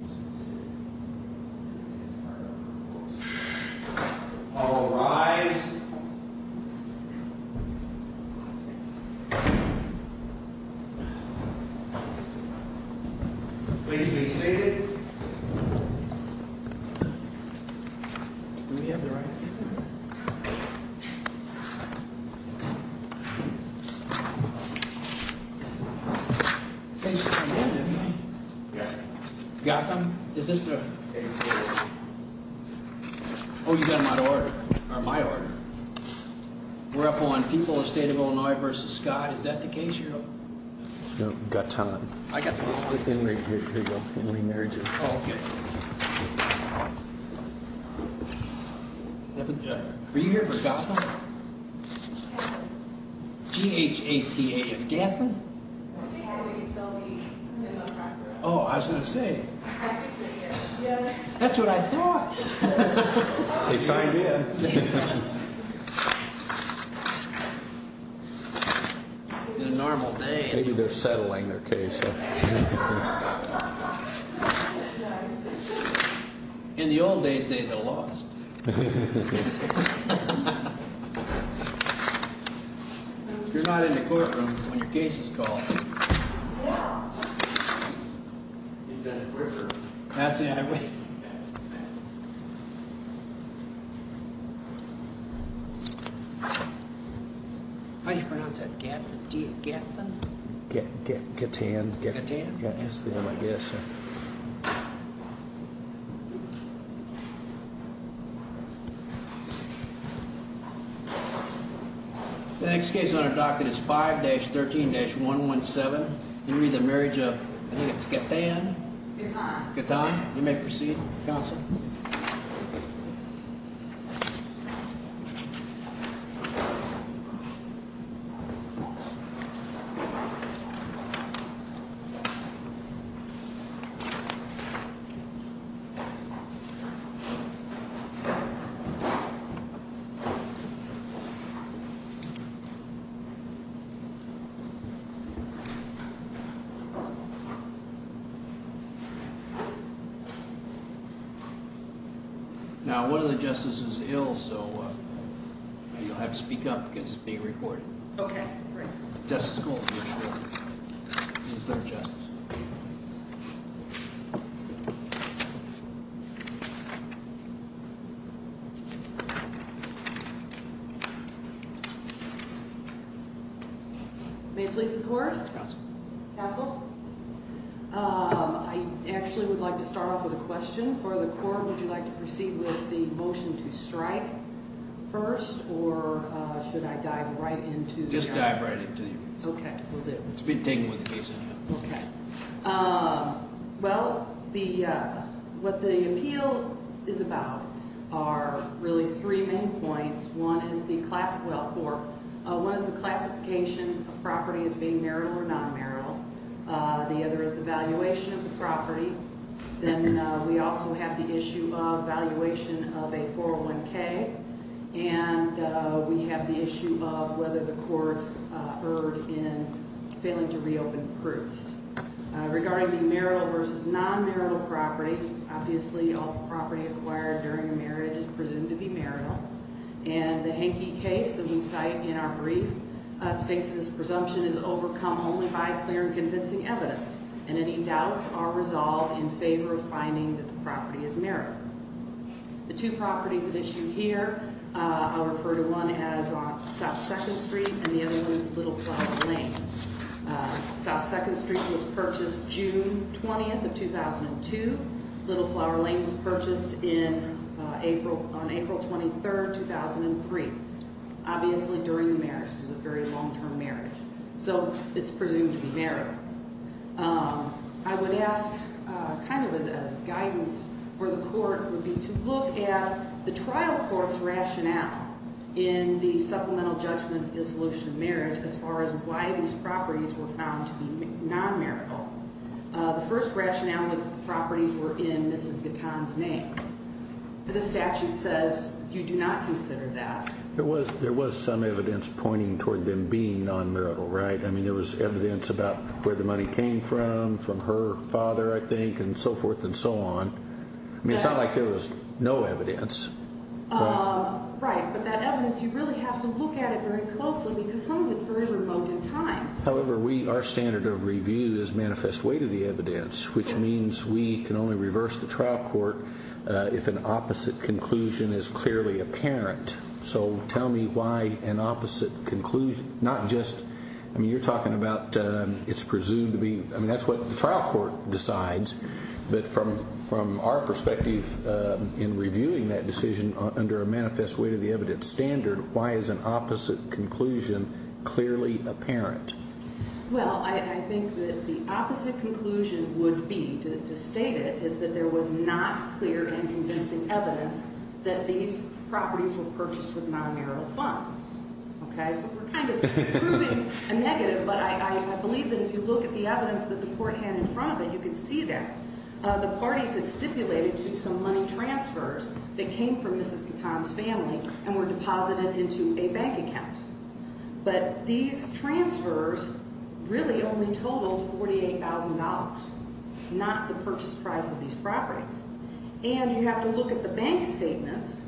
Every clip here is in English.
Assembly Hall All rise please be seated Do we have the right people here? Got them? Is this the... Oh, you got my order. Or my order. We're up on People of the State of Illinois v. Scott. Is that the case here? No, we've got time. I got them. Are you here for Gathlin? G-H-A-T-H-I-N Gathlin? Oh, I was going to say. That's what I thought. They signed in. It's a normal day. Maybe they're settling their case. In the old days, they lost. You're not in the courtroom when your case is called. That's the highway. How do you pronounce that? G-A-T-H-L-I-N? G-A-T-H-I-N That's the one, I guess. The next case on our docket is 5-13-117. You'll read the marriage of, I think it's Gathan. Gathan. You may proceed, counsel. Thank you. You'll have to speak up because it's being recorded. Okay. May it please the court? Counsel? I actually would like to start off with a question. For the court, would you like to proceed with the motion to strike first? Or should I dive right into it? Just dive right into it. Okay. It's been taken with the case anyway. Okay. Well, what the appeal is about are really three main points. One is the classification of property as being marital or non-marital. The other is the valuation of the property. Then we also have the issue of valuation of a 401K. And we have the issue of whether the court erred in failing to reopen proofs. Regarding the marital versus non-marital property, obviously all property acquired during a marriage is presumed to be marital. And the Henke case that we cite in our brief states that this presumption is overcome only by clear and convincing evidence. And any doubts are resolved in favor of finding that the property is marital. The two properties that are issued here, I'll refer to one as South 2nd Street and the other one as Little Flower Lane. South 2nd Street was purchased June 20th of 2002. Little Flower Lane was purchased on April 23rd, 2003. Obviously during the marriage. This was a very long-term marriage. So it's presumed to be marital. I would ask kind of as guidance for the court would be to look at the trial court's rationale in the supplemental judgment dissolution of marriage as far as why these properties were found to be non-marital. The first rationale was that the properties were in Mrs. Gatton's name. The statute says you do not consider that. There was some evidence pointing toward them being non-marital, right? I mean, there was evidence about where the money came from, from her father, I think, and so forth and so on. I mean, it's not like there was no evidence. Right, but that evidence, you really have to look at it very closely because some of it's very remote in time. However, our standard of review is manifest way to the evidence, which means we can only reverse the trial court if an opposite conclusion is clearly apparent. So tell me why an opposite conclusion, not just, I mean, you're talking about it's presumed to be, I mean, that's what the trial court decides. But from our perspective in reviewing that decision under a manifest way to the evidence standard, why is an opposite conclusion clearly apparent? Well, I think that the opposite conclusion would be, to state it, is that there was not clear and convincing evidence that these properties were purchased with non-marital funds. Okay, so we're kind of proving a negative, but I believe that if you look at the evidence that the court had in front of it, you can see that. The parties had stipulated to some money transfers that came from Mrs. Catan's family and were deposited into a bank account. But these transfers really only totaled $48,000, not the purchase price of these properties. And you have to look at the bank statements.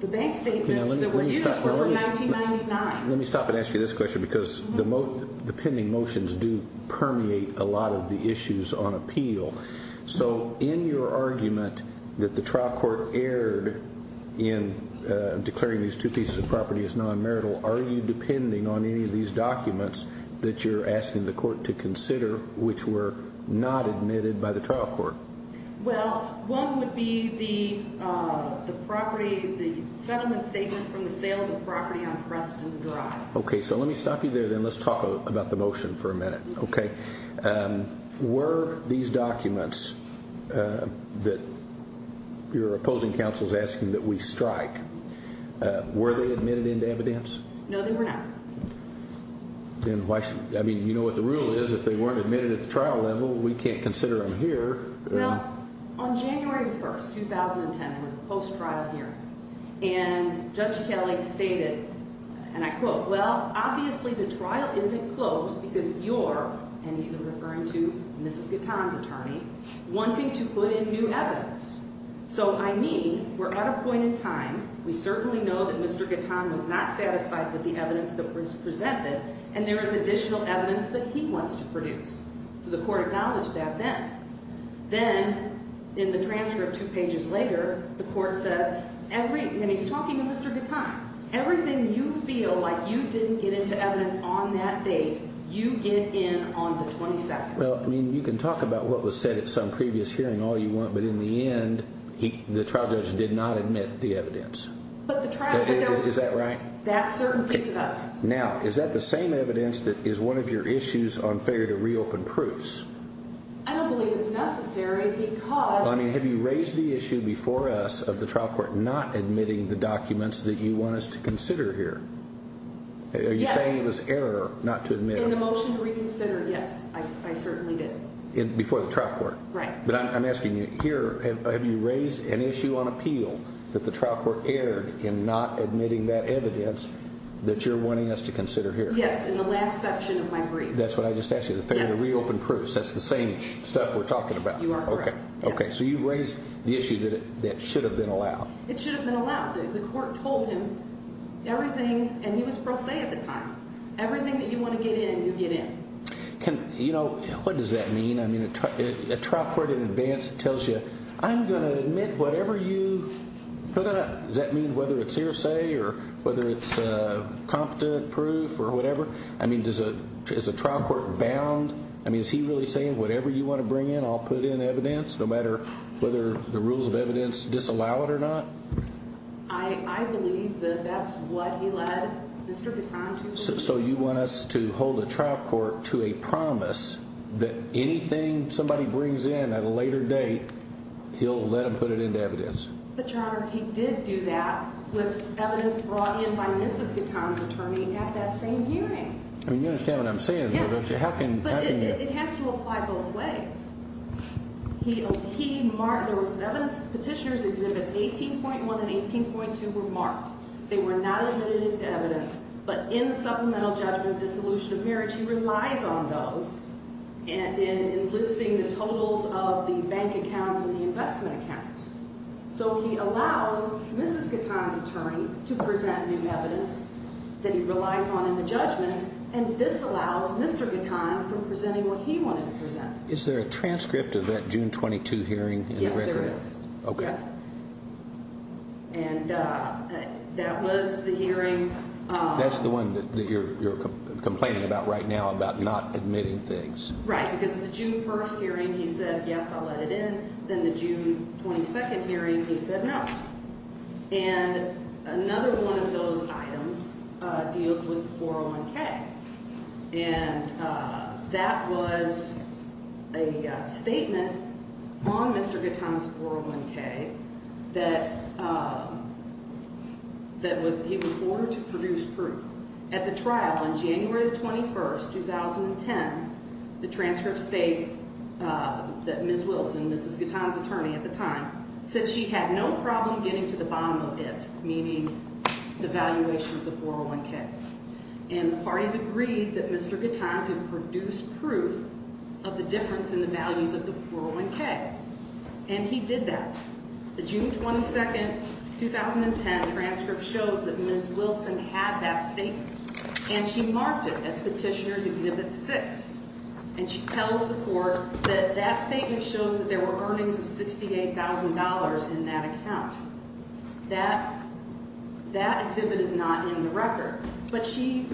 The bank statements that were used were from 1999. Let me stop and ask you this question because the pending motions do permeate a lot of the issues on appeal. So in your argument that the trial court erred in declaring these two pieces of property as non-marital, are you depending on any of these documents that you're asking the court to consider which were not admitted by the trial court? Well, one would be the settlement statement from the sale of the property on Creston Drive. Okay, so let me stop you there then. Let's talk about the motion for a minute, okay? Were these documents that your opposing counsel is asking that we strike, were they admitted into evidence? No, they were not. I mean, you know what the rule is. If they weren't admitted at the trial level, we can't consider them here. Well, on January 1, 2010, it was a post-trial hearing, and Judge Kelly stated, and I quote, Well, obviously the trial isn't closed because you're, and he's referring to Mrs. Catan's attorney, wanting to put in new evidence. So I mean, we're at a point in time, we certainly know that Mr. Catan was not satisfied with the evidence that was presented, and there is additional evidence that he wants to produce. So the court acknowledged that then. Then, in the transcript two pages later, the court says, and he's talking to Mr. Catan, Everything you feel like you didn't get into evidence on that date, you get in on the 22nd. Well, I mean, you can talk about what was said at some previous hearing all you want, but in the end, the trial judge did not admit the evidence. Is that right? That certain piece of evidence. Now, is that the same evidence that is one of your issues on failure to reopen proofs? I don't believe it's necessary because I mean, have you raised the issue before us of the trial court not admitting the documents that you want us to consider here? Yes. Are you saying it was error not to admit them? In the motion to reconsider, yes, I certainly did. Before the trial court? Right. But I'm asking you here, have you raised an issue on appeal that the trial court erred in not admitting that evidence that you're wanting us to consider here? Yes, in the last section of my brief. That's what I just asked you, the failure to reopen proofs. That's the same stuff we're talking about. You are correct. Okay, so you've raised the issue that should have been allowed. It should have been allowed. The court told him everything, and he was pro se at the time, everything that you want to get in, you get in. What does that mean? I mean, a trial court in advance tells you, I'm going to admit whatever you put up. Does that mean whether it's hearsay or whether it's competent proof or whatever? I mean, is a trial court bound? I mean, is he really saying whatever you want to bring in, I'll put in evidence no matter whether the rules of evidence disallow it or not? I believe that that's what he led Mr. Gatton to believe. So you want us to hold a trial court to a promise that anything somebody brings in at a later date, he'll let them put it into evidence? But, Your Honor, he did do that with evidence brought in by Mrs. Gatton's attorney at that same hearing. I mean, you understand what I'm saying, don't you? Yes, but it has to apply both ways. There was an evidence petitioner's exhibits, 18.1 and 18.2, were marked. They were not admitted as evidence, but in the supplemental judgment of dissolution of marriage, he relies on those in listing the totals of the bank accounts and the investment accounts. So he allows Mrs. Gatton's attorney to present new evidence that he relies on in the judgment and disallows Mr. Gatton from presenting what he wanted to present. Is there a transcript of that June 22 hearing in the record? Yes, there is. Okay. And that was the hearing. That's the one that you're complaining about right now, about not admitting things. Right, because the June 1st hearing, he said, yes, I'll let it in. Then the June 22nd hearing, he said no. And another one of those items deals with 401K. And that was a statement on Mr. Gatton's 401K that he was ordered to produce proof. At the trial on January 21st, 2010, the transcript states that Ms. Wilson, Mrs. Gatton's attorney at the time, said she had no problem getting to the bottom of it, meaning the valuation of the 401K. And the parties agreed that Mr. Gatton could produce proof of the difference in the values of the 401K. And he did that. The June 22nd, 2010 transcript shows that Ms. Wilson had that statement, and she marked it as Petitioner's Exhibit 6. And she tells the court that that statement shows that there were earnings of $68,000 in that account. That exhibit is not in the record. But she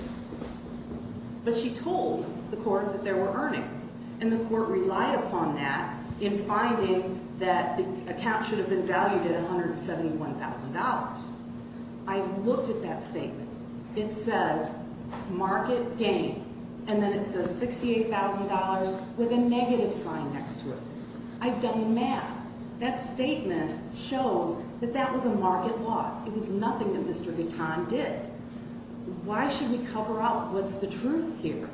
told the court that there were earnings. And the court relied upon that in finding that the account should have been valued at $171,000. I looked at that statement. It says market gain, and then it says $68,000 with a negative sign next to it. I've done the math. That statement shows that that was a market loss. It was nothing that Mr. Gatton did. Why should we cover up what's the truth here?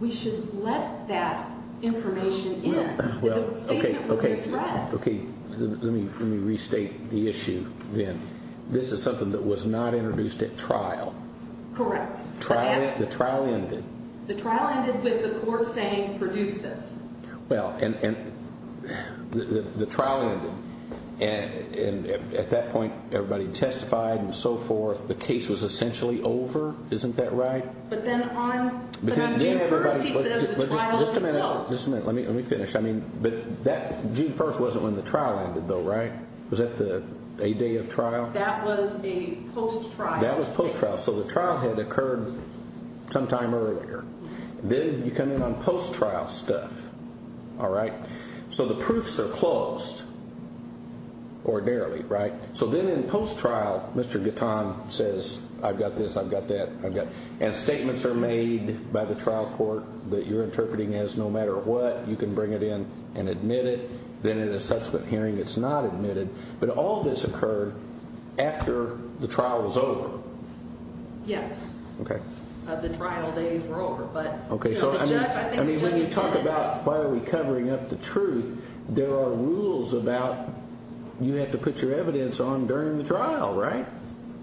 We should let that information in. The statement was misread. Okay, let me restate the issue then. This is something that was not introduced at trial. Correct. The trial ended. The trial ended with the court saying produce this. Well, and the trial ended. And at that point, everybody testified and so forth. The case was essentially over. Isn't that right? But then on June 1st, he says the trial ended. Just a minute. Let me finish. June 1st wasn't when the trial ended, though, right? Was that a day of trial? That was a post-trial. That was post-trial. So the trial had occurred sometime earlier. Then you come in on post-trial stuff. All right? So the proofs are closed ordinarily, right? So then in post-trial, Mr. Gatton says, I've got this, I've got that. And statements are made by the trial court that you're interpreting as no matter what. You can bring it in and admit it. Then in a subsequent hearing, it's not admitted. But all this occurred after the trial was over. Yes. Okay. So when you talk about why are we covering up the truth, there are rules about you have to put your evidence on during the trial, right?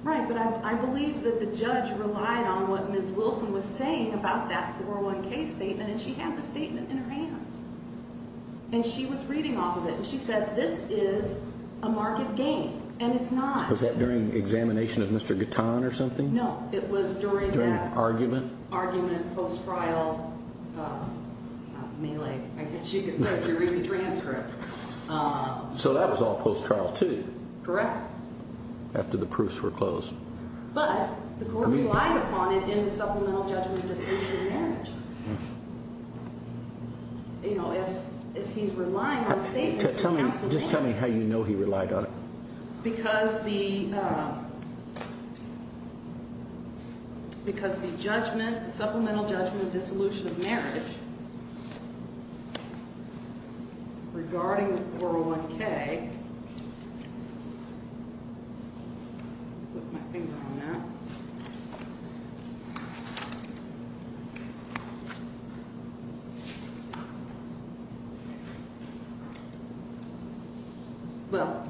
Right. But I believe that the judge relied on what Ms. Wilson was saying about that 401K statement, and she had the statement in her hands. And she was reading off of it. And she said, this is a market game. And it's not. Was that during examination of Mr. Gatton or something? No, it was during that. During argument? Argument, post-trial. I mean, like, I guess you could say if you're reading the transcript. So that was all post-trial too? Correct. After the proofs were closed. But the court relied upon it in the supplemental judgment decision in marriage. You know, if he's relying on statements, the counsel has to. Just tell me how you know he relied on it. Because the judgment, the supplemental judgment dissolution of marriage, regarding the 401K. Put my finger on that. Well,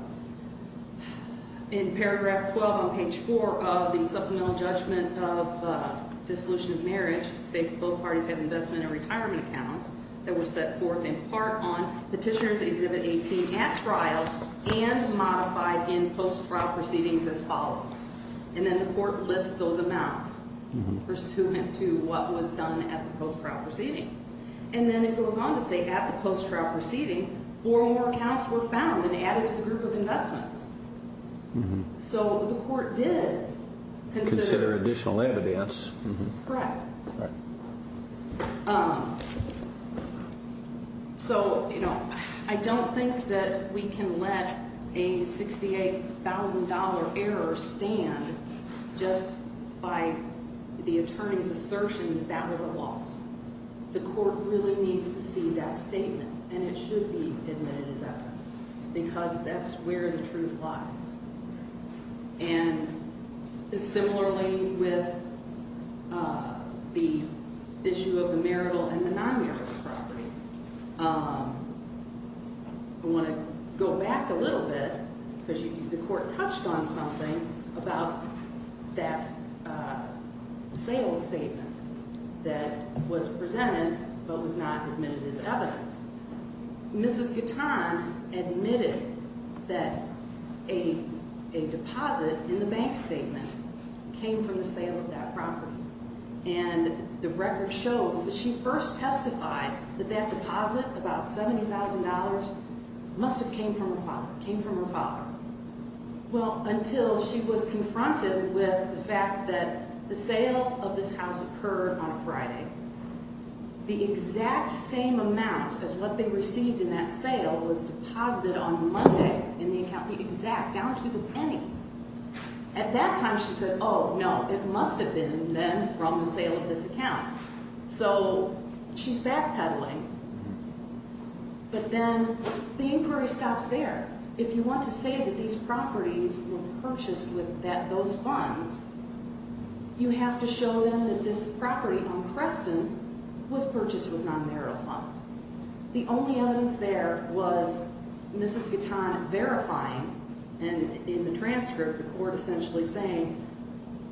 in paragraph 12 on page 4 of the supplemental judgment of dissolution of marriage, states that both parties have investment and retirement accounts that were set forth in part on Petitioner's Exhibit 18 at trial and modified in post-trial proceedings as follows. And then the court lists those amounts pursuant to what was done at the post-trial proceedings. And then it goes on to say at the post-trial proceeding, four more accounts were found and added to the group of investments. So the court did consider additional evidence. Correct. So, you know, I don't think that we can let a $68,000 error stand just by the attorney's assertion that that was a loss. The court really needs to see that statement. And it should be admitted as evidence. Because that's where the truth lies. And similarly with the issue of the marital and the non-marital property, I want to go back a little bit because the court touched on something about that sales statement that was presented but was not admitted as evidence. Mrs. Gatton admitted that a deposit in the bank statement came from the sale of that property. And the record shows that she first testified that that deposit, about $70,000, must have came from her father. Well, until she was confronted with the fact that the sale of this house occurred on a Friday. The exact same amount as what they received in that sale was deposited on Monday in the account, the exact, down to the penny. At that time, she said, oh, no, it must have been then from the sale of this account. So she's backpedaling. But then the inquiry stops there. If you want to say that these properties were purchased with those funds, you have to show them that this property on Creston was purchased with non-marital funds. The only evidence there was Mrs. Gatton verifying. And in the transcript, the court essentially saying,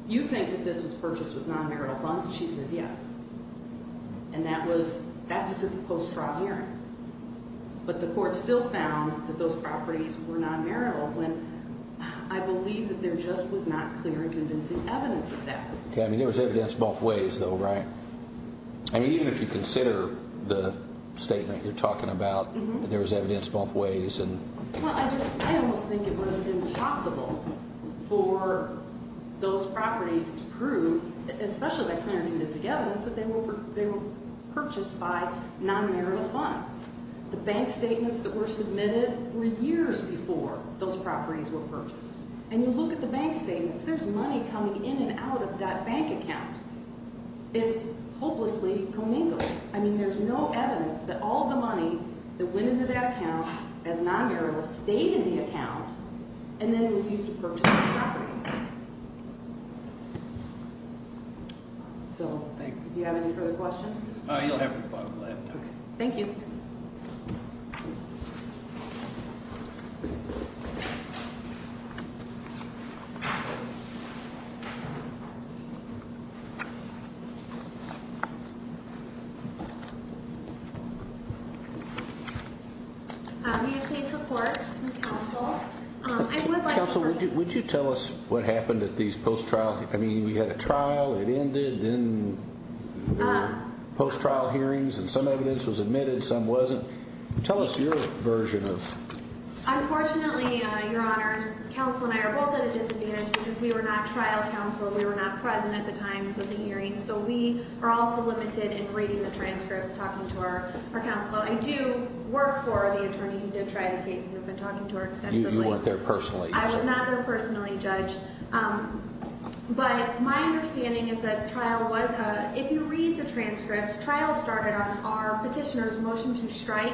you think that this was purchased with non-marital funds? She says, yes. And that was at the post-trial hearing. But the court still found that those properties were non-marital when I believe that there just was not clear and convincing evidence of that. I mean, there was evidence both ways, though, right? I mean, even if you consider the statement you're talking about, there was evidence both ways. Well, I almost think it was impossible for those properties to prove, especially that clear and convincing evidence, that they were purchased by non-marital funds. The bank statements that were submitted were years before those properties were purchased. And you look at the bank statements, there's money coming in and out of that bank account. It's hopelessly commingled. I mean, there's no evidence that all of the money that went into that account as non-marital stayed in the account and then was used to purchase those properties. So, do you have any further questions? You'll have them. Thank you. Do you have any support from counsel? Counsel, would you tell us what happened at these post-trial hearings? I mean, we had a trial, it ended, then there were post-trial hearings, and some evidence was admitted, some wasn't. Tell us your version of... Unfortunately, Your Honors, counsel and I are both at a disadvantage because we were not trial counsel. We were not present at the times of the hearings. So, we are also limited in reading the transcripts, talking to our counsel. I do work for the attorney who did try the case and have been talking to her extensively. You weren't there personally. I was not there personally, Judge. But my understanding is that the trial was... If you read the transcripts, trials started on our petitioner's motion to strike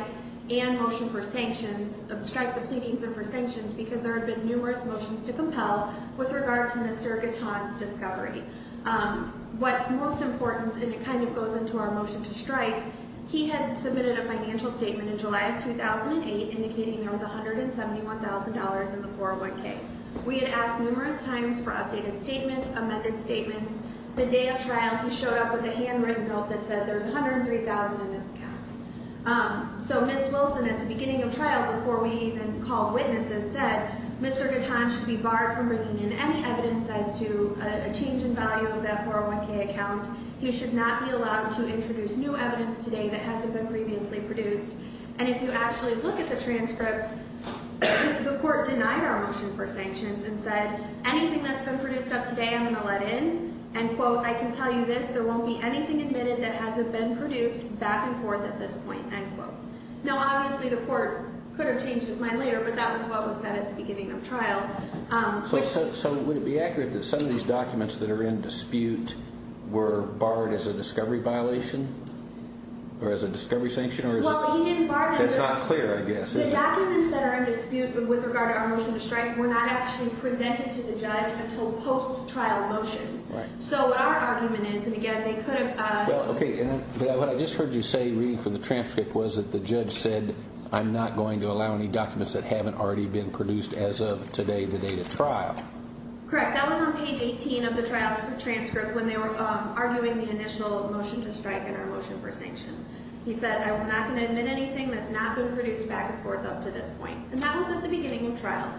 and motion for sanctions, strike the pleadings and for sanctions, because there have been numerous motions to compel with regard to Mr. Gatton's discovery. What's most important, and it kind of goes into our motion to strike, he had submitted a financial statement in July of 2008 indicating there was $171,000 in the 401k. We had asked numerous times for updated statements, amended statements. The day of trial, he showed up with a handwritten note that said there's $103,000 in this account. So, Ms. Wilson, at the beginning of trial, before we even called witnesses, said, Mr. Gatton should be barred from bringing in any evidence as to a change in value of that 401k account. He should not be allowed to introduce new evidence today that hasn't been previously produced. And if you actually look at the transcript, the court denied our motion for sanctions and said, anything that's been produced up to date, I'm going to let in. And, quote, I can tell you this, there won't be anything admitted that hasn't been produced back and forth at this point, end quote. Now, obviously, the court could have changed his mind later, but that was what was said at the beginning of trial. So would it be accurate that some of these documents that are in dispute were barred as a discovery violation or as a discovery sanction? Well, he didn't bar them. That's not clear, I guess, is it? The documents that are in dispute with regard to our motion to strike were not actually presented to the judge until post-trial motions. Right. So our argument is, and again, they could have… Well, okay. What I just heard you say, reading from the transcript, was that the judge said, I'm not going to allow any documents that haven't already been produced as of today, the date of trial. Correct. That was on page 18 of the transcript when they were arguing the initial motion to strike and our motion for sanctions. He said, I'm not going to admit anything that's not been produced back and forth up to this point. And that was at the beginning of trial.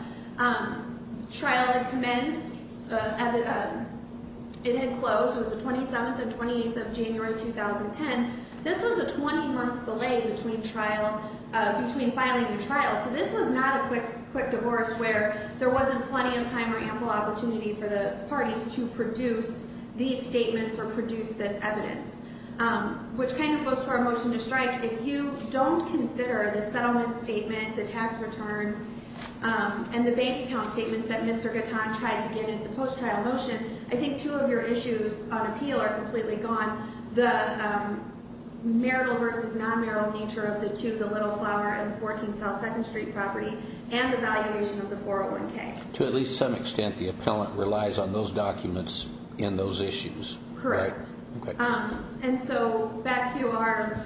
Trial had commenced. It had closed. It was the 27th and 28th of January, 2010. This was a 20-month delay between filing a trial. So this was not a quick divorce where there wasn't plenty of time or ample opportunity for the parties to produce these statements or produce this evidence, which kind of goes to our motion to strike. If you don't consider the settlement statement, the tax return, and the base account statements that Mr. Gatton tried to get in the post-trial motion, I think two of your issues on appeal are completely gone, the marital versus non-marital nature of the two, the Little Flower and the 14 South 2nd Street property, and the valuation of the 401K. To at least some extent, the appellant relies on those documents in those issues. Correct. Okay. And so back to our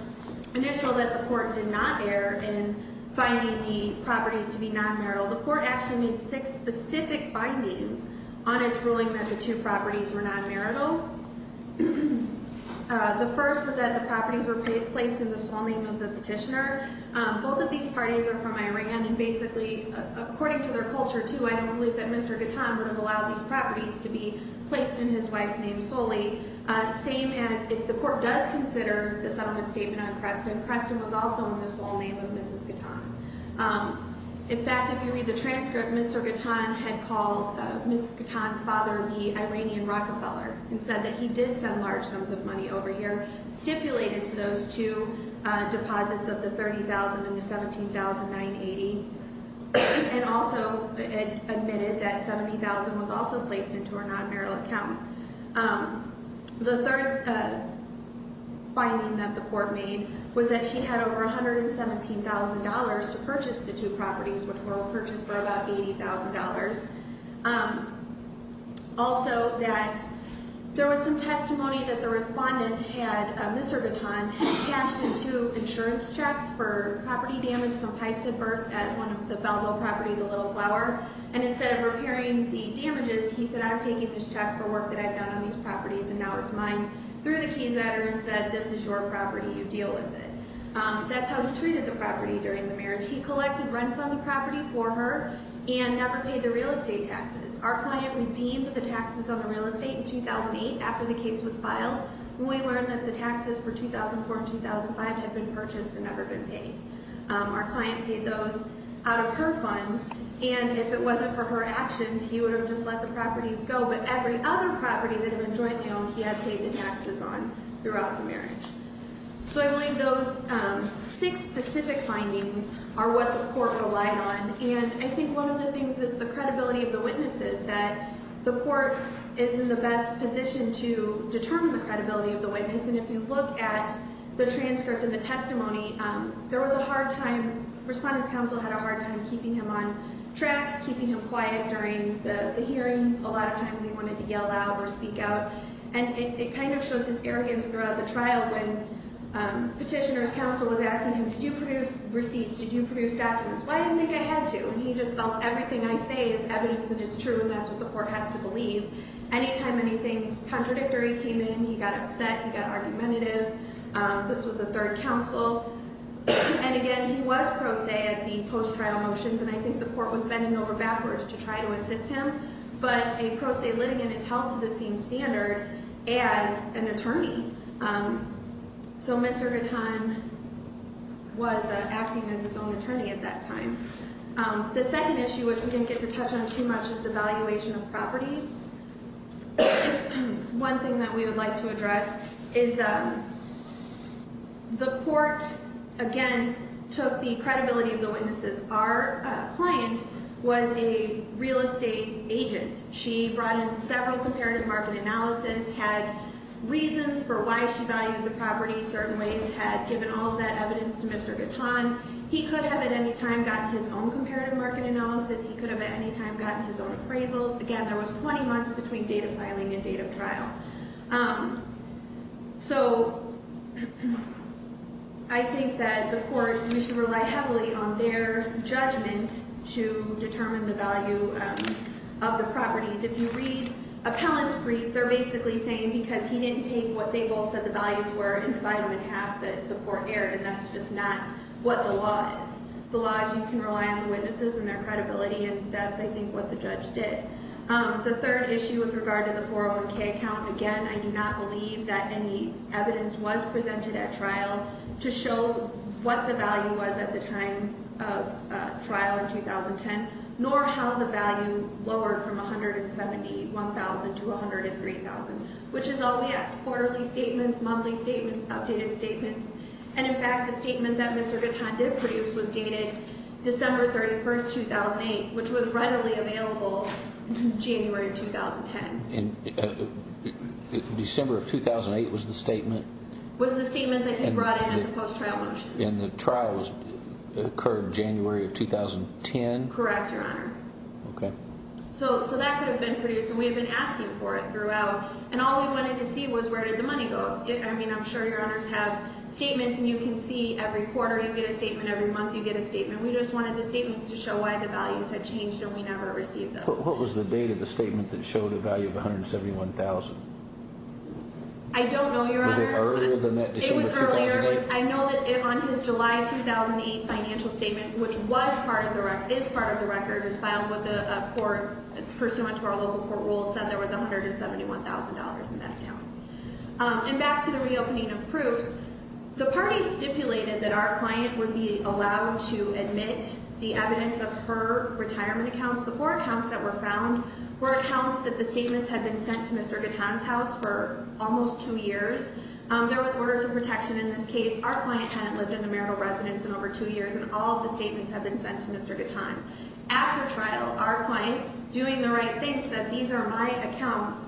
initial that the court did not err in finding the properties to be non-marital, the court actually made six specific findings on its ruling that the two properties were non-marital. The first was that the properties were placed in the sole name of the petitioner. Both of these parties are from Iran, and basically, according to their culture, too, I don't believe that Mr. Gatton would have allowed these properties to be placed in his wife's name solely. Same as if the court does consider the settlement statement on Creston, Creston was also in the sole name of Mrs. Gatton. In fact, if you read the transcript, Mr. Gatton had called Mrs. Gatton's father the Iranian Rockefeller and said that he did send large sums of money over here, stipulated to those two deposits of the $30,000 and the $17,980, and also admitted that $70,000 was also placed into her non-marital account. The third finding that the court made was that she had over $117,000 to purchase the two properties, which were purchased for about $80,000. Also that there was some testimony that the respondent had Mr. Gatton cashed in two insurance checks for property damage, some pipes had burst at one of the Belleville property, the Little Flower, and instead of repairing the damages, he said, I'm taking this check for work that I've done on these properties and now it's mine, threw the keys at her and said, this is your property, you deal with it. That's how he treated the property during the marriage. He collected rents on the property for her and never paid the real estate taxes. Our client redeemed the taxes on the real estate in 2008 after the case was filed. We learned that the taxes for 2004 and 2005 had been purchased and never been paid. Our client paid those out of her funds. And if it wasn't for her actions, he would have just let the properties go. But every other property that had been jointly owned, he had paid the taxes on throughout the marriage. So I believe those six specific findings are what the court relied on. And I think one of the things is the credibility of the witnesses, that the court is in the best position to determine the credibility of the witness. And if you look at the transcript and the testimony, there was a hard time, Respondent's Counsel had a hard time keeping him on track, keeping him quiet during the hearings. A lot of times he wanted to yell out or speak out. And it kind of shows his arrogance throughout the trial when Petitioner's Counsel was asking him, did you produce receipts, did you produce documents? Why do you think I had to? And he just felt everything I say is evidence and it's true and that's what the court has to believe. Anytime anything contradictory came in, he got upset, he got argumentative. This was the third counsel. And again, he was pro se at the post-trial motions, and I think the court was bending over backwards to try to assist him. But a pro se litigant is held to the same standard as an attorney. So Mr. Gatton was acting as his own attorney at that time. The second issue, which we didn't get to touch on too much, is the valuation of property. One thing that we would like to address is the court, again, took the credibility of the witnesses. Our client was a real estate agent. She brought in several comparative market analysis, had reasons for why she valued the property certain ways, had given all of that evidence to Mr. Gatton. He could have at any time gotten his own comparative market analysis. He could have at any time gotten his own appraisals. Again, there was 20 months between date of filing and date of trial. So I think that the court, we should rely heavily on their judgment to determine the value of the properties. If you read Appellant's brief, they're basically saying because he didn't take what they both said the values were that the court erred, and that's just not what the law is. The law is you can rely on the witnesses and their credibility, and that's, I think, what the judge did. The third issue with regard to the 401K account, again, I do not believe that any evidence was presented at trial to show what the value was at the time of trial in 2010, nor how the value lowered from $171,000 to $103,000, which is all we asked, quarterly statements, monthly statements, outdated statements. And, in fact, the statement that Mr. Gatton did produce was dated December 31, 2008, which was readily available January of 2010. December of 2008 was the statement? Was the statement that he brought in at the post-trial motion. And the trial occurred January of 2010? Correct, Your Honor. Okay. So that could have been produced, and we have been asking for it throughout, and all we wanted to see was where did the money go? I mean, I'm sure Your Honors have statements, and you can see every quarter you get a statement, every month you get a statement. We just wanted the statements to show why the values had changed, and we never received those. What was the date of the statement that showed a value of $171,000? I don't know, Your Honor. Was it earlier than that, December 2008? I know that on his July 2008 financial statement, which was part of the record, is part of the record, is filed with the court pursuant to our local court rules, said there was $171,000 in that account. And back to the reopening of proofs, the party stipulated that our client would be allowed to admit the evidence of her retirement accounts. The four accounts that were found were accounts that the statements had been sent to Mr. Gatton's house for almost two years. There was orders of protection in this case. Our client hadn't lived in the marital residence in over two years, and all of the statements had been sent to Mr. Gatton. After trial, our client, doing the right thing, said these are my accounts.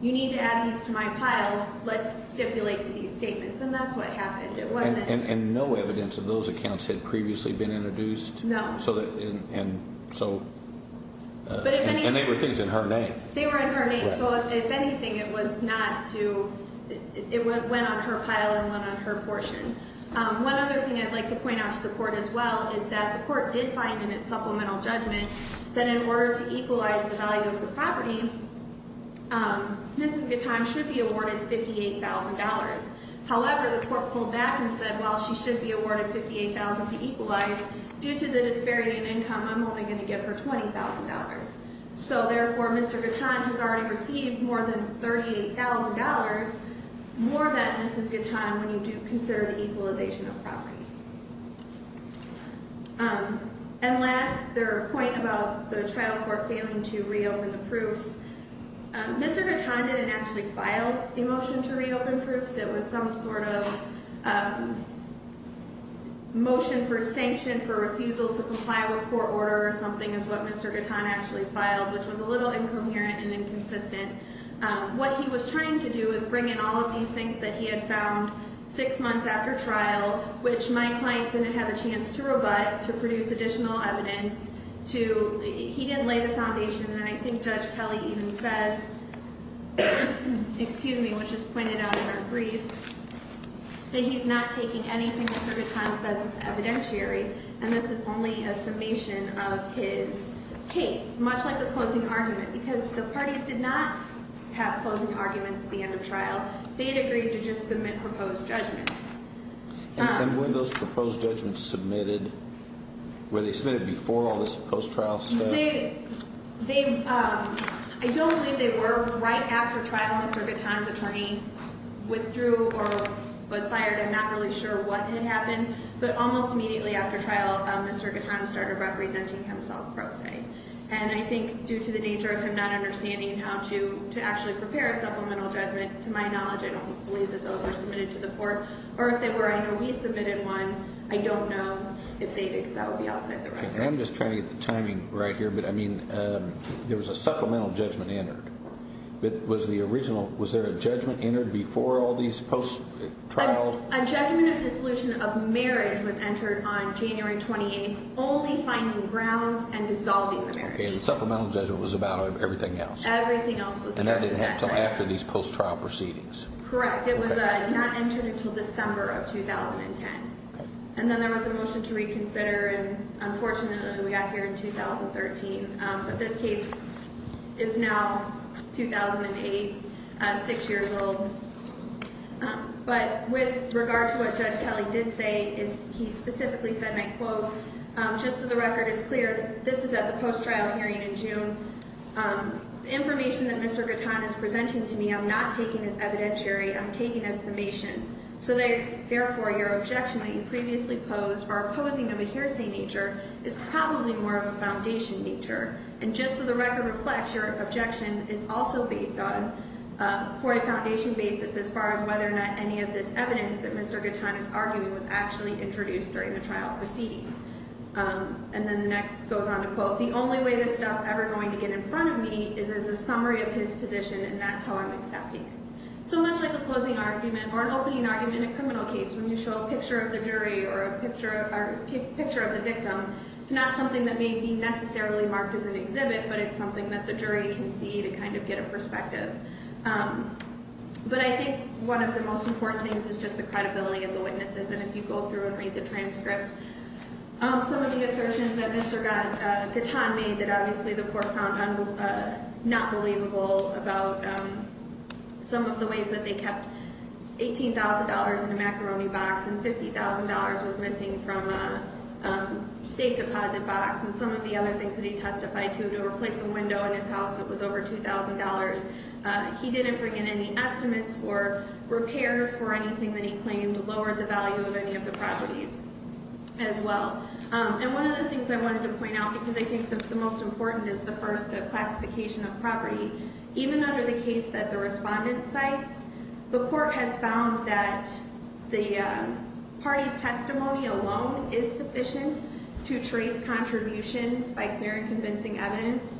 You need to add these to my pile. Let's stipulate to these statements, and that's what happened. And no evidence of those accounts had previously been introduced? No. And they were things in her name? They were in her name. So if anything, it went on her pile and went on her portion. One other thing I'd like to point out to the court as well is that the court did find in its supplemental judgment that in order to equalize the value of the property, Mrs. Gatton should be awarded $58,000. However, the court pulled back and said, well, she should be awarded $58,000 to equalize. Due to the disparity in income, I'm only going to give her $20,000. So therefore, Mr. Gatton has already received more than $38,000. More of that, Mrs. Gatton, when you do consider the equalization of property. And last, their point about the trial court failing to reopen the proofs. Mr. Gatton didn't actually file the motion to reopen proofs. It was some sort of motion for sanction for refusal to comply with court order or something is what Mr. Gatton actually filed, which was a little incoherent and inconsistent. What he was trying to do is bring in all of these things that he had found six months after trial, which my client didn't have a chance to rebut, to produce additional evidence. He didn't lay the foundation. And I think Judge Kelly even says, which is pointed out in her brief, that he's not taking any single-circuit time as evidentiary. And this is only a summation of his case, much like the closing argument. Because the parties did not have closing arguments at the end of trial. They had agreed to just submit proposed judgments. And when those proposed judgments submitted, were they submitted before all this post-trial stuff? I don't believe they were. Right after trial, Mr. Gatton's attorney withdrew or was fired. I'm not really sure what had happened. But almost immediately after trial, Mr. Gatton started representing himself pro se. And I think due to the nature of him not understanding how to actually prepare a supplemental judgment, to my knowledge, I don't believe that those were submitted to the court. Or if they were, I know he submitted one. I don't know if they did, because that would be outside the record. And I'm just trying to get the timing right here. But, I mean, there was a supplemental judgment entered. Was there a judgment entered before all these post-trials? A judgment of dissolution of marriage was entered on January 28th, only finding grounds and dissolving the marriage. Okay, and the supplemental judgment was about everything else. Everything else was addressed at that time. And that didn't happen until after these post-trial proceedings. Correct. It was not entered until December of 2010. And then there was a motion to reconsider, and unfortunately we got here in 2013. But this case is now 2008, six years old. But with regard to what Judge Kelly did say, he specifically said, and I quote, Just so the record is clear, this is at the post-trial hearing in June. The information that Mr. Gatton is presenting to me, I'm not taking as evidentiary. I'm taking as summation. So therefore, your objection that you previously posed, or opposing of a hearsay nature, is probably more of a foundation nature. And just so the record reflects, your objection is also based on, for a foundation basis, as far as whether or not any of this evidence that Mr. Gatton is arguing was actually introduced during the trial proceeding. And then the next goes on to quote, The only way this stuff's ever going to get in front of me is as a summary of his position, and that's how I'm accepting it. So much like a closing argument, or an opening argument in a criminal case, when you show a picture of the jury, or a picture of the victim, it's not something that may be necessarily marked as an exhibit, but it's something that the jury can see to kind of get a perspective. But I think one of the most important things is just the credibility of the witnesses, and if you go through and read the transcript, some of the assertions that Mr. Gatton made that obviously the court found not believable about some of the ways that they kept $18,000 in a macaroni box, and $50,000 was missing from a safe deposit box, and some of the other things that he testified to, to replace a window in his house that was over $2,000, he didn't bring in any estimates for repairs for anything that he claimed lowered the value of any of the properties as well. And one of the things I wanted to point out, because I think the most important is the first classification of property, even under the case that the respondent cites, the court has found that the party's testimony alone is sufficient to trace contributions by clear and convincing evidence.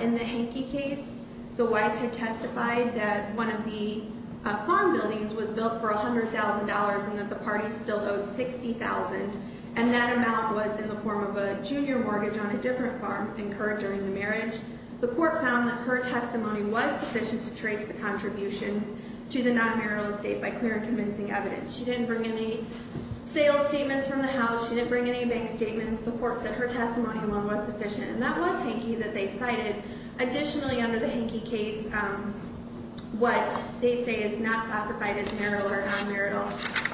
In the Hanke case, the wife had testified that one of the farm buildings was built for $100,000 and that the party still owed $60,000, and that amount was in the form of a junior mortgage on a different farm incurred during the marriage. The court found that her testimony was sufficient to trace the contributions to the non-marital estate by clear and convincing evidence. She didn't bring any sales statements from the house. She didn't bring any bank statements. The court said her testimony alone was sufficient. And that was Hanke that they cited. Additionally, under the Hanke case, what they say is not classified as marital or non-marital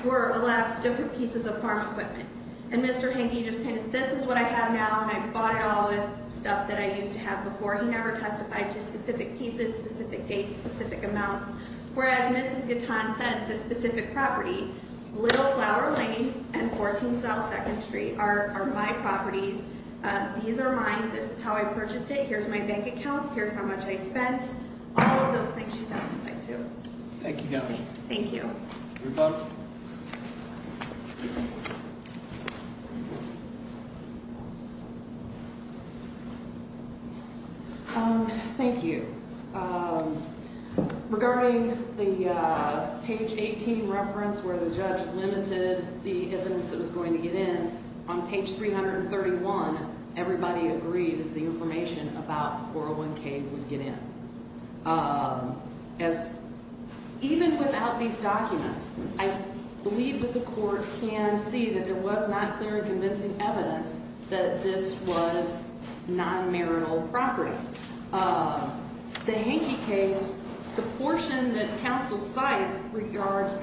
were a lot of different pieces of farm equipment. And Mr. Hanke just kind of, this is what I have now, and I bought it all with stuff that I used to have before. He never testified to specific pieces, specific dates, specific amounts. Whereas Mrs. Guitton said the specific property, Little Flower Lane and 14 South 2nd Street are my properties. These are mine. This is how I purchased it. Here's my bank accounts. Here's how much I spent. All of those things she testified to. Thank you. Thank you. Thank you. Thank you. Regarding the page 18 reference where the judge limited the evidence that was going to get in, on page 331, everybody agreed that the information about 401K would get in. As even without these documents, I believe that the court can see that there was not clear and convincing evidence that this was non-marital property. The Hanke case, the portion that counsel cites regards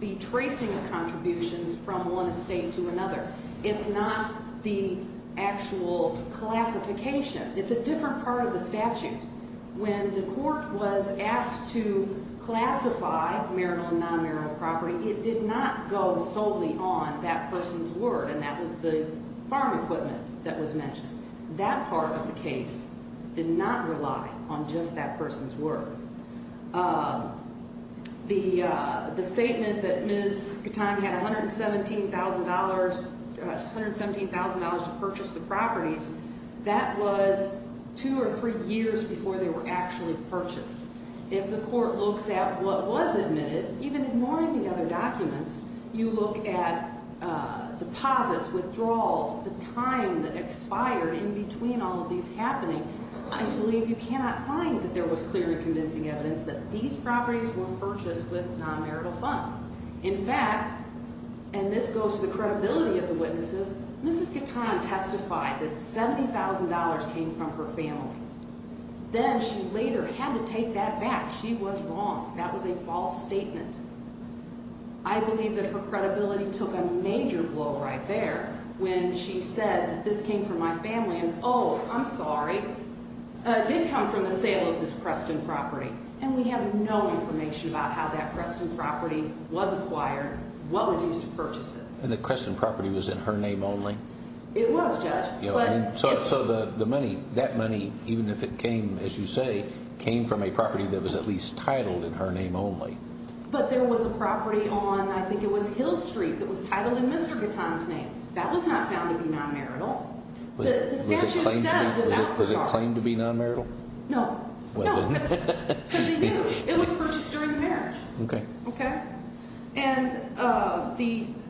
the tracing of contributions from one estate to another. It's not the actual classification. It's a different part of the statute. When the court was asked to classify marital and non-marital property, it did not go solely on that person's word, and that was the farm equipment that was mentioned. That part of the case did not rely on just that person's word. The statement that Ms. Katan had $117,000 to purchase the properties, that was two or three years before they were actually purchased. If the court looks at what was admitted, even ignoring the other documents, you look at deposits, withdrawals, the time that expired in between all of these happening, I believe you cannot find that there was clear and convincing evidence that these properties were purchased with non-marital funds. In fact, and this goes to the credibility of the witnesses, Mrs. Katan testified that $70,000 came from her family. Then she later had to take that back. She was wrong. That was a false statement. I believe that her credibility took a major blow right there when she said that this came from my family, and oh, I'm sorry, it did come from the sale of this Creston property, and we have no information about how that Creston property was acquired, what was used to purchase it. And the Creston property was in her name only? It was, Judge. So the money, that money, even if it came, as you say, came from a property that was at least titled in her name only. But there was a property on, I think it was Hill Street, that was titled in Mr. Katan's name. That was not found to be non-marital. Was it claimed to be non-marital? No. No, because he knew it was purchased during the marriage. Okay. Okay. And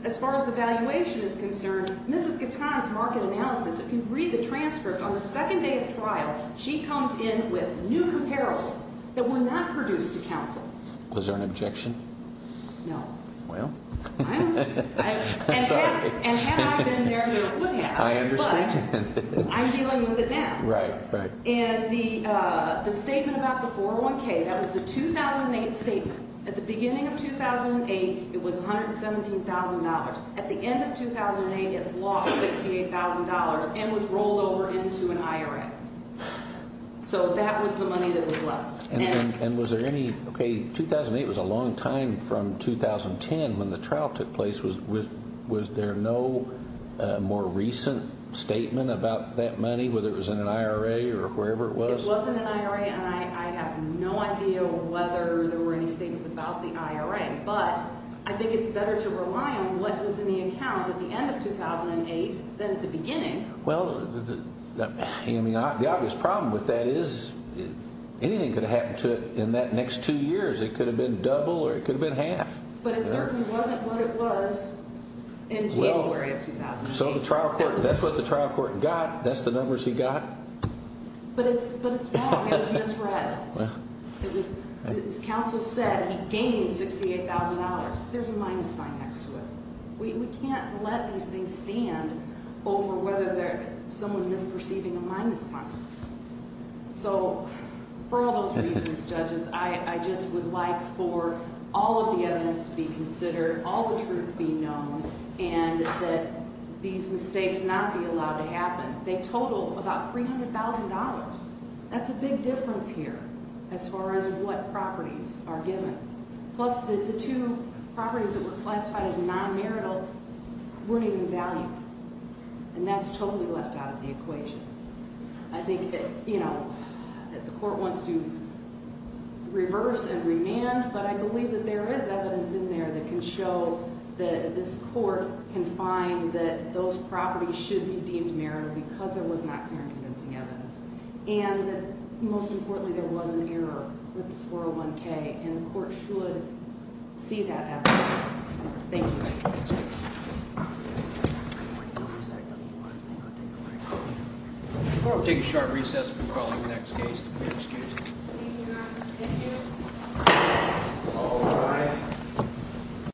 as far as the valuation is concerned, Mrs. Katan's market analysis, if you read the transcript on the second day of trial, she comes in with new comparables that were not produced to counsel. Was there an objection? No. Well. And had I been there, there would have. I understand. But I'm dealing with it now. Right, right. And the statement about the 401K, that was the 2008 statement. At the beginning of 2008, it was $117,000. At the end of 2008, it lost $68,000 and was rolled over into an IRA. So that was the money that was left. And was there any – okay, 2008 was a long time from 2010 when the trial took place. Was there no more recent statement about that money, whether it was in an IRA or wherever it was? It was in an IRA, and I have no idea whether there were any statements about the IRA. But I think it's better to rely on what was in the account at the end of 2008 than at the beginning. Well, I mean, the obvious problem with that is anything could have happened to it in that next two years. It could have been double or it could have been half. But it certainly wasn't what it was in January of 2008. So the trial court – that's what the trial court got. That's the numbers he got. But it's wrong. It was misread. It was – as counsel said, he gained $68,000. There's a minus sign next to it. We can't let these things stand over whether someone is perceiving a minus sign. So for all those reasons, judges, I just would like for all of the evidence to be considered, all the truth be known, and that these mistakes not be allowed to happen. They total about $300,000. That's a big difference here as far as what properties are given. Plus the two properties that were classified as non-marital weren't even valued. And that's totally left out of the equation. I think that, you know, the court wants to reverse and remand, but I believe that there is evidence in there that can show that this court can find that those properties should be deemed marital because there was not clear and convincing evidence. And most importantly, there was an error with the 401K, and the court should see that evidence. Thank you. Thank you. Thank you. I'm going to take a short recess and call the next case. Excuse me. Thank you, Your Honor. Thank you. All rise.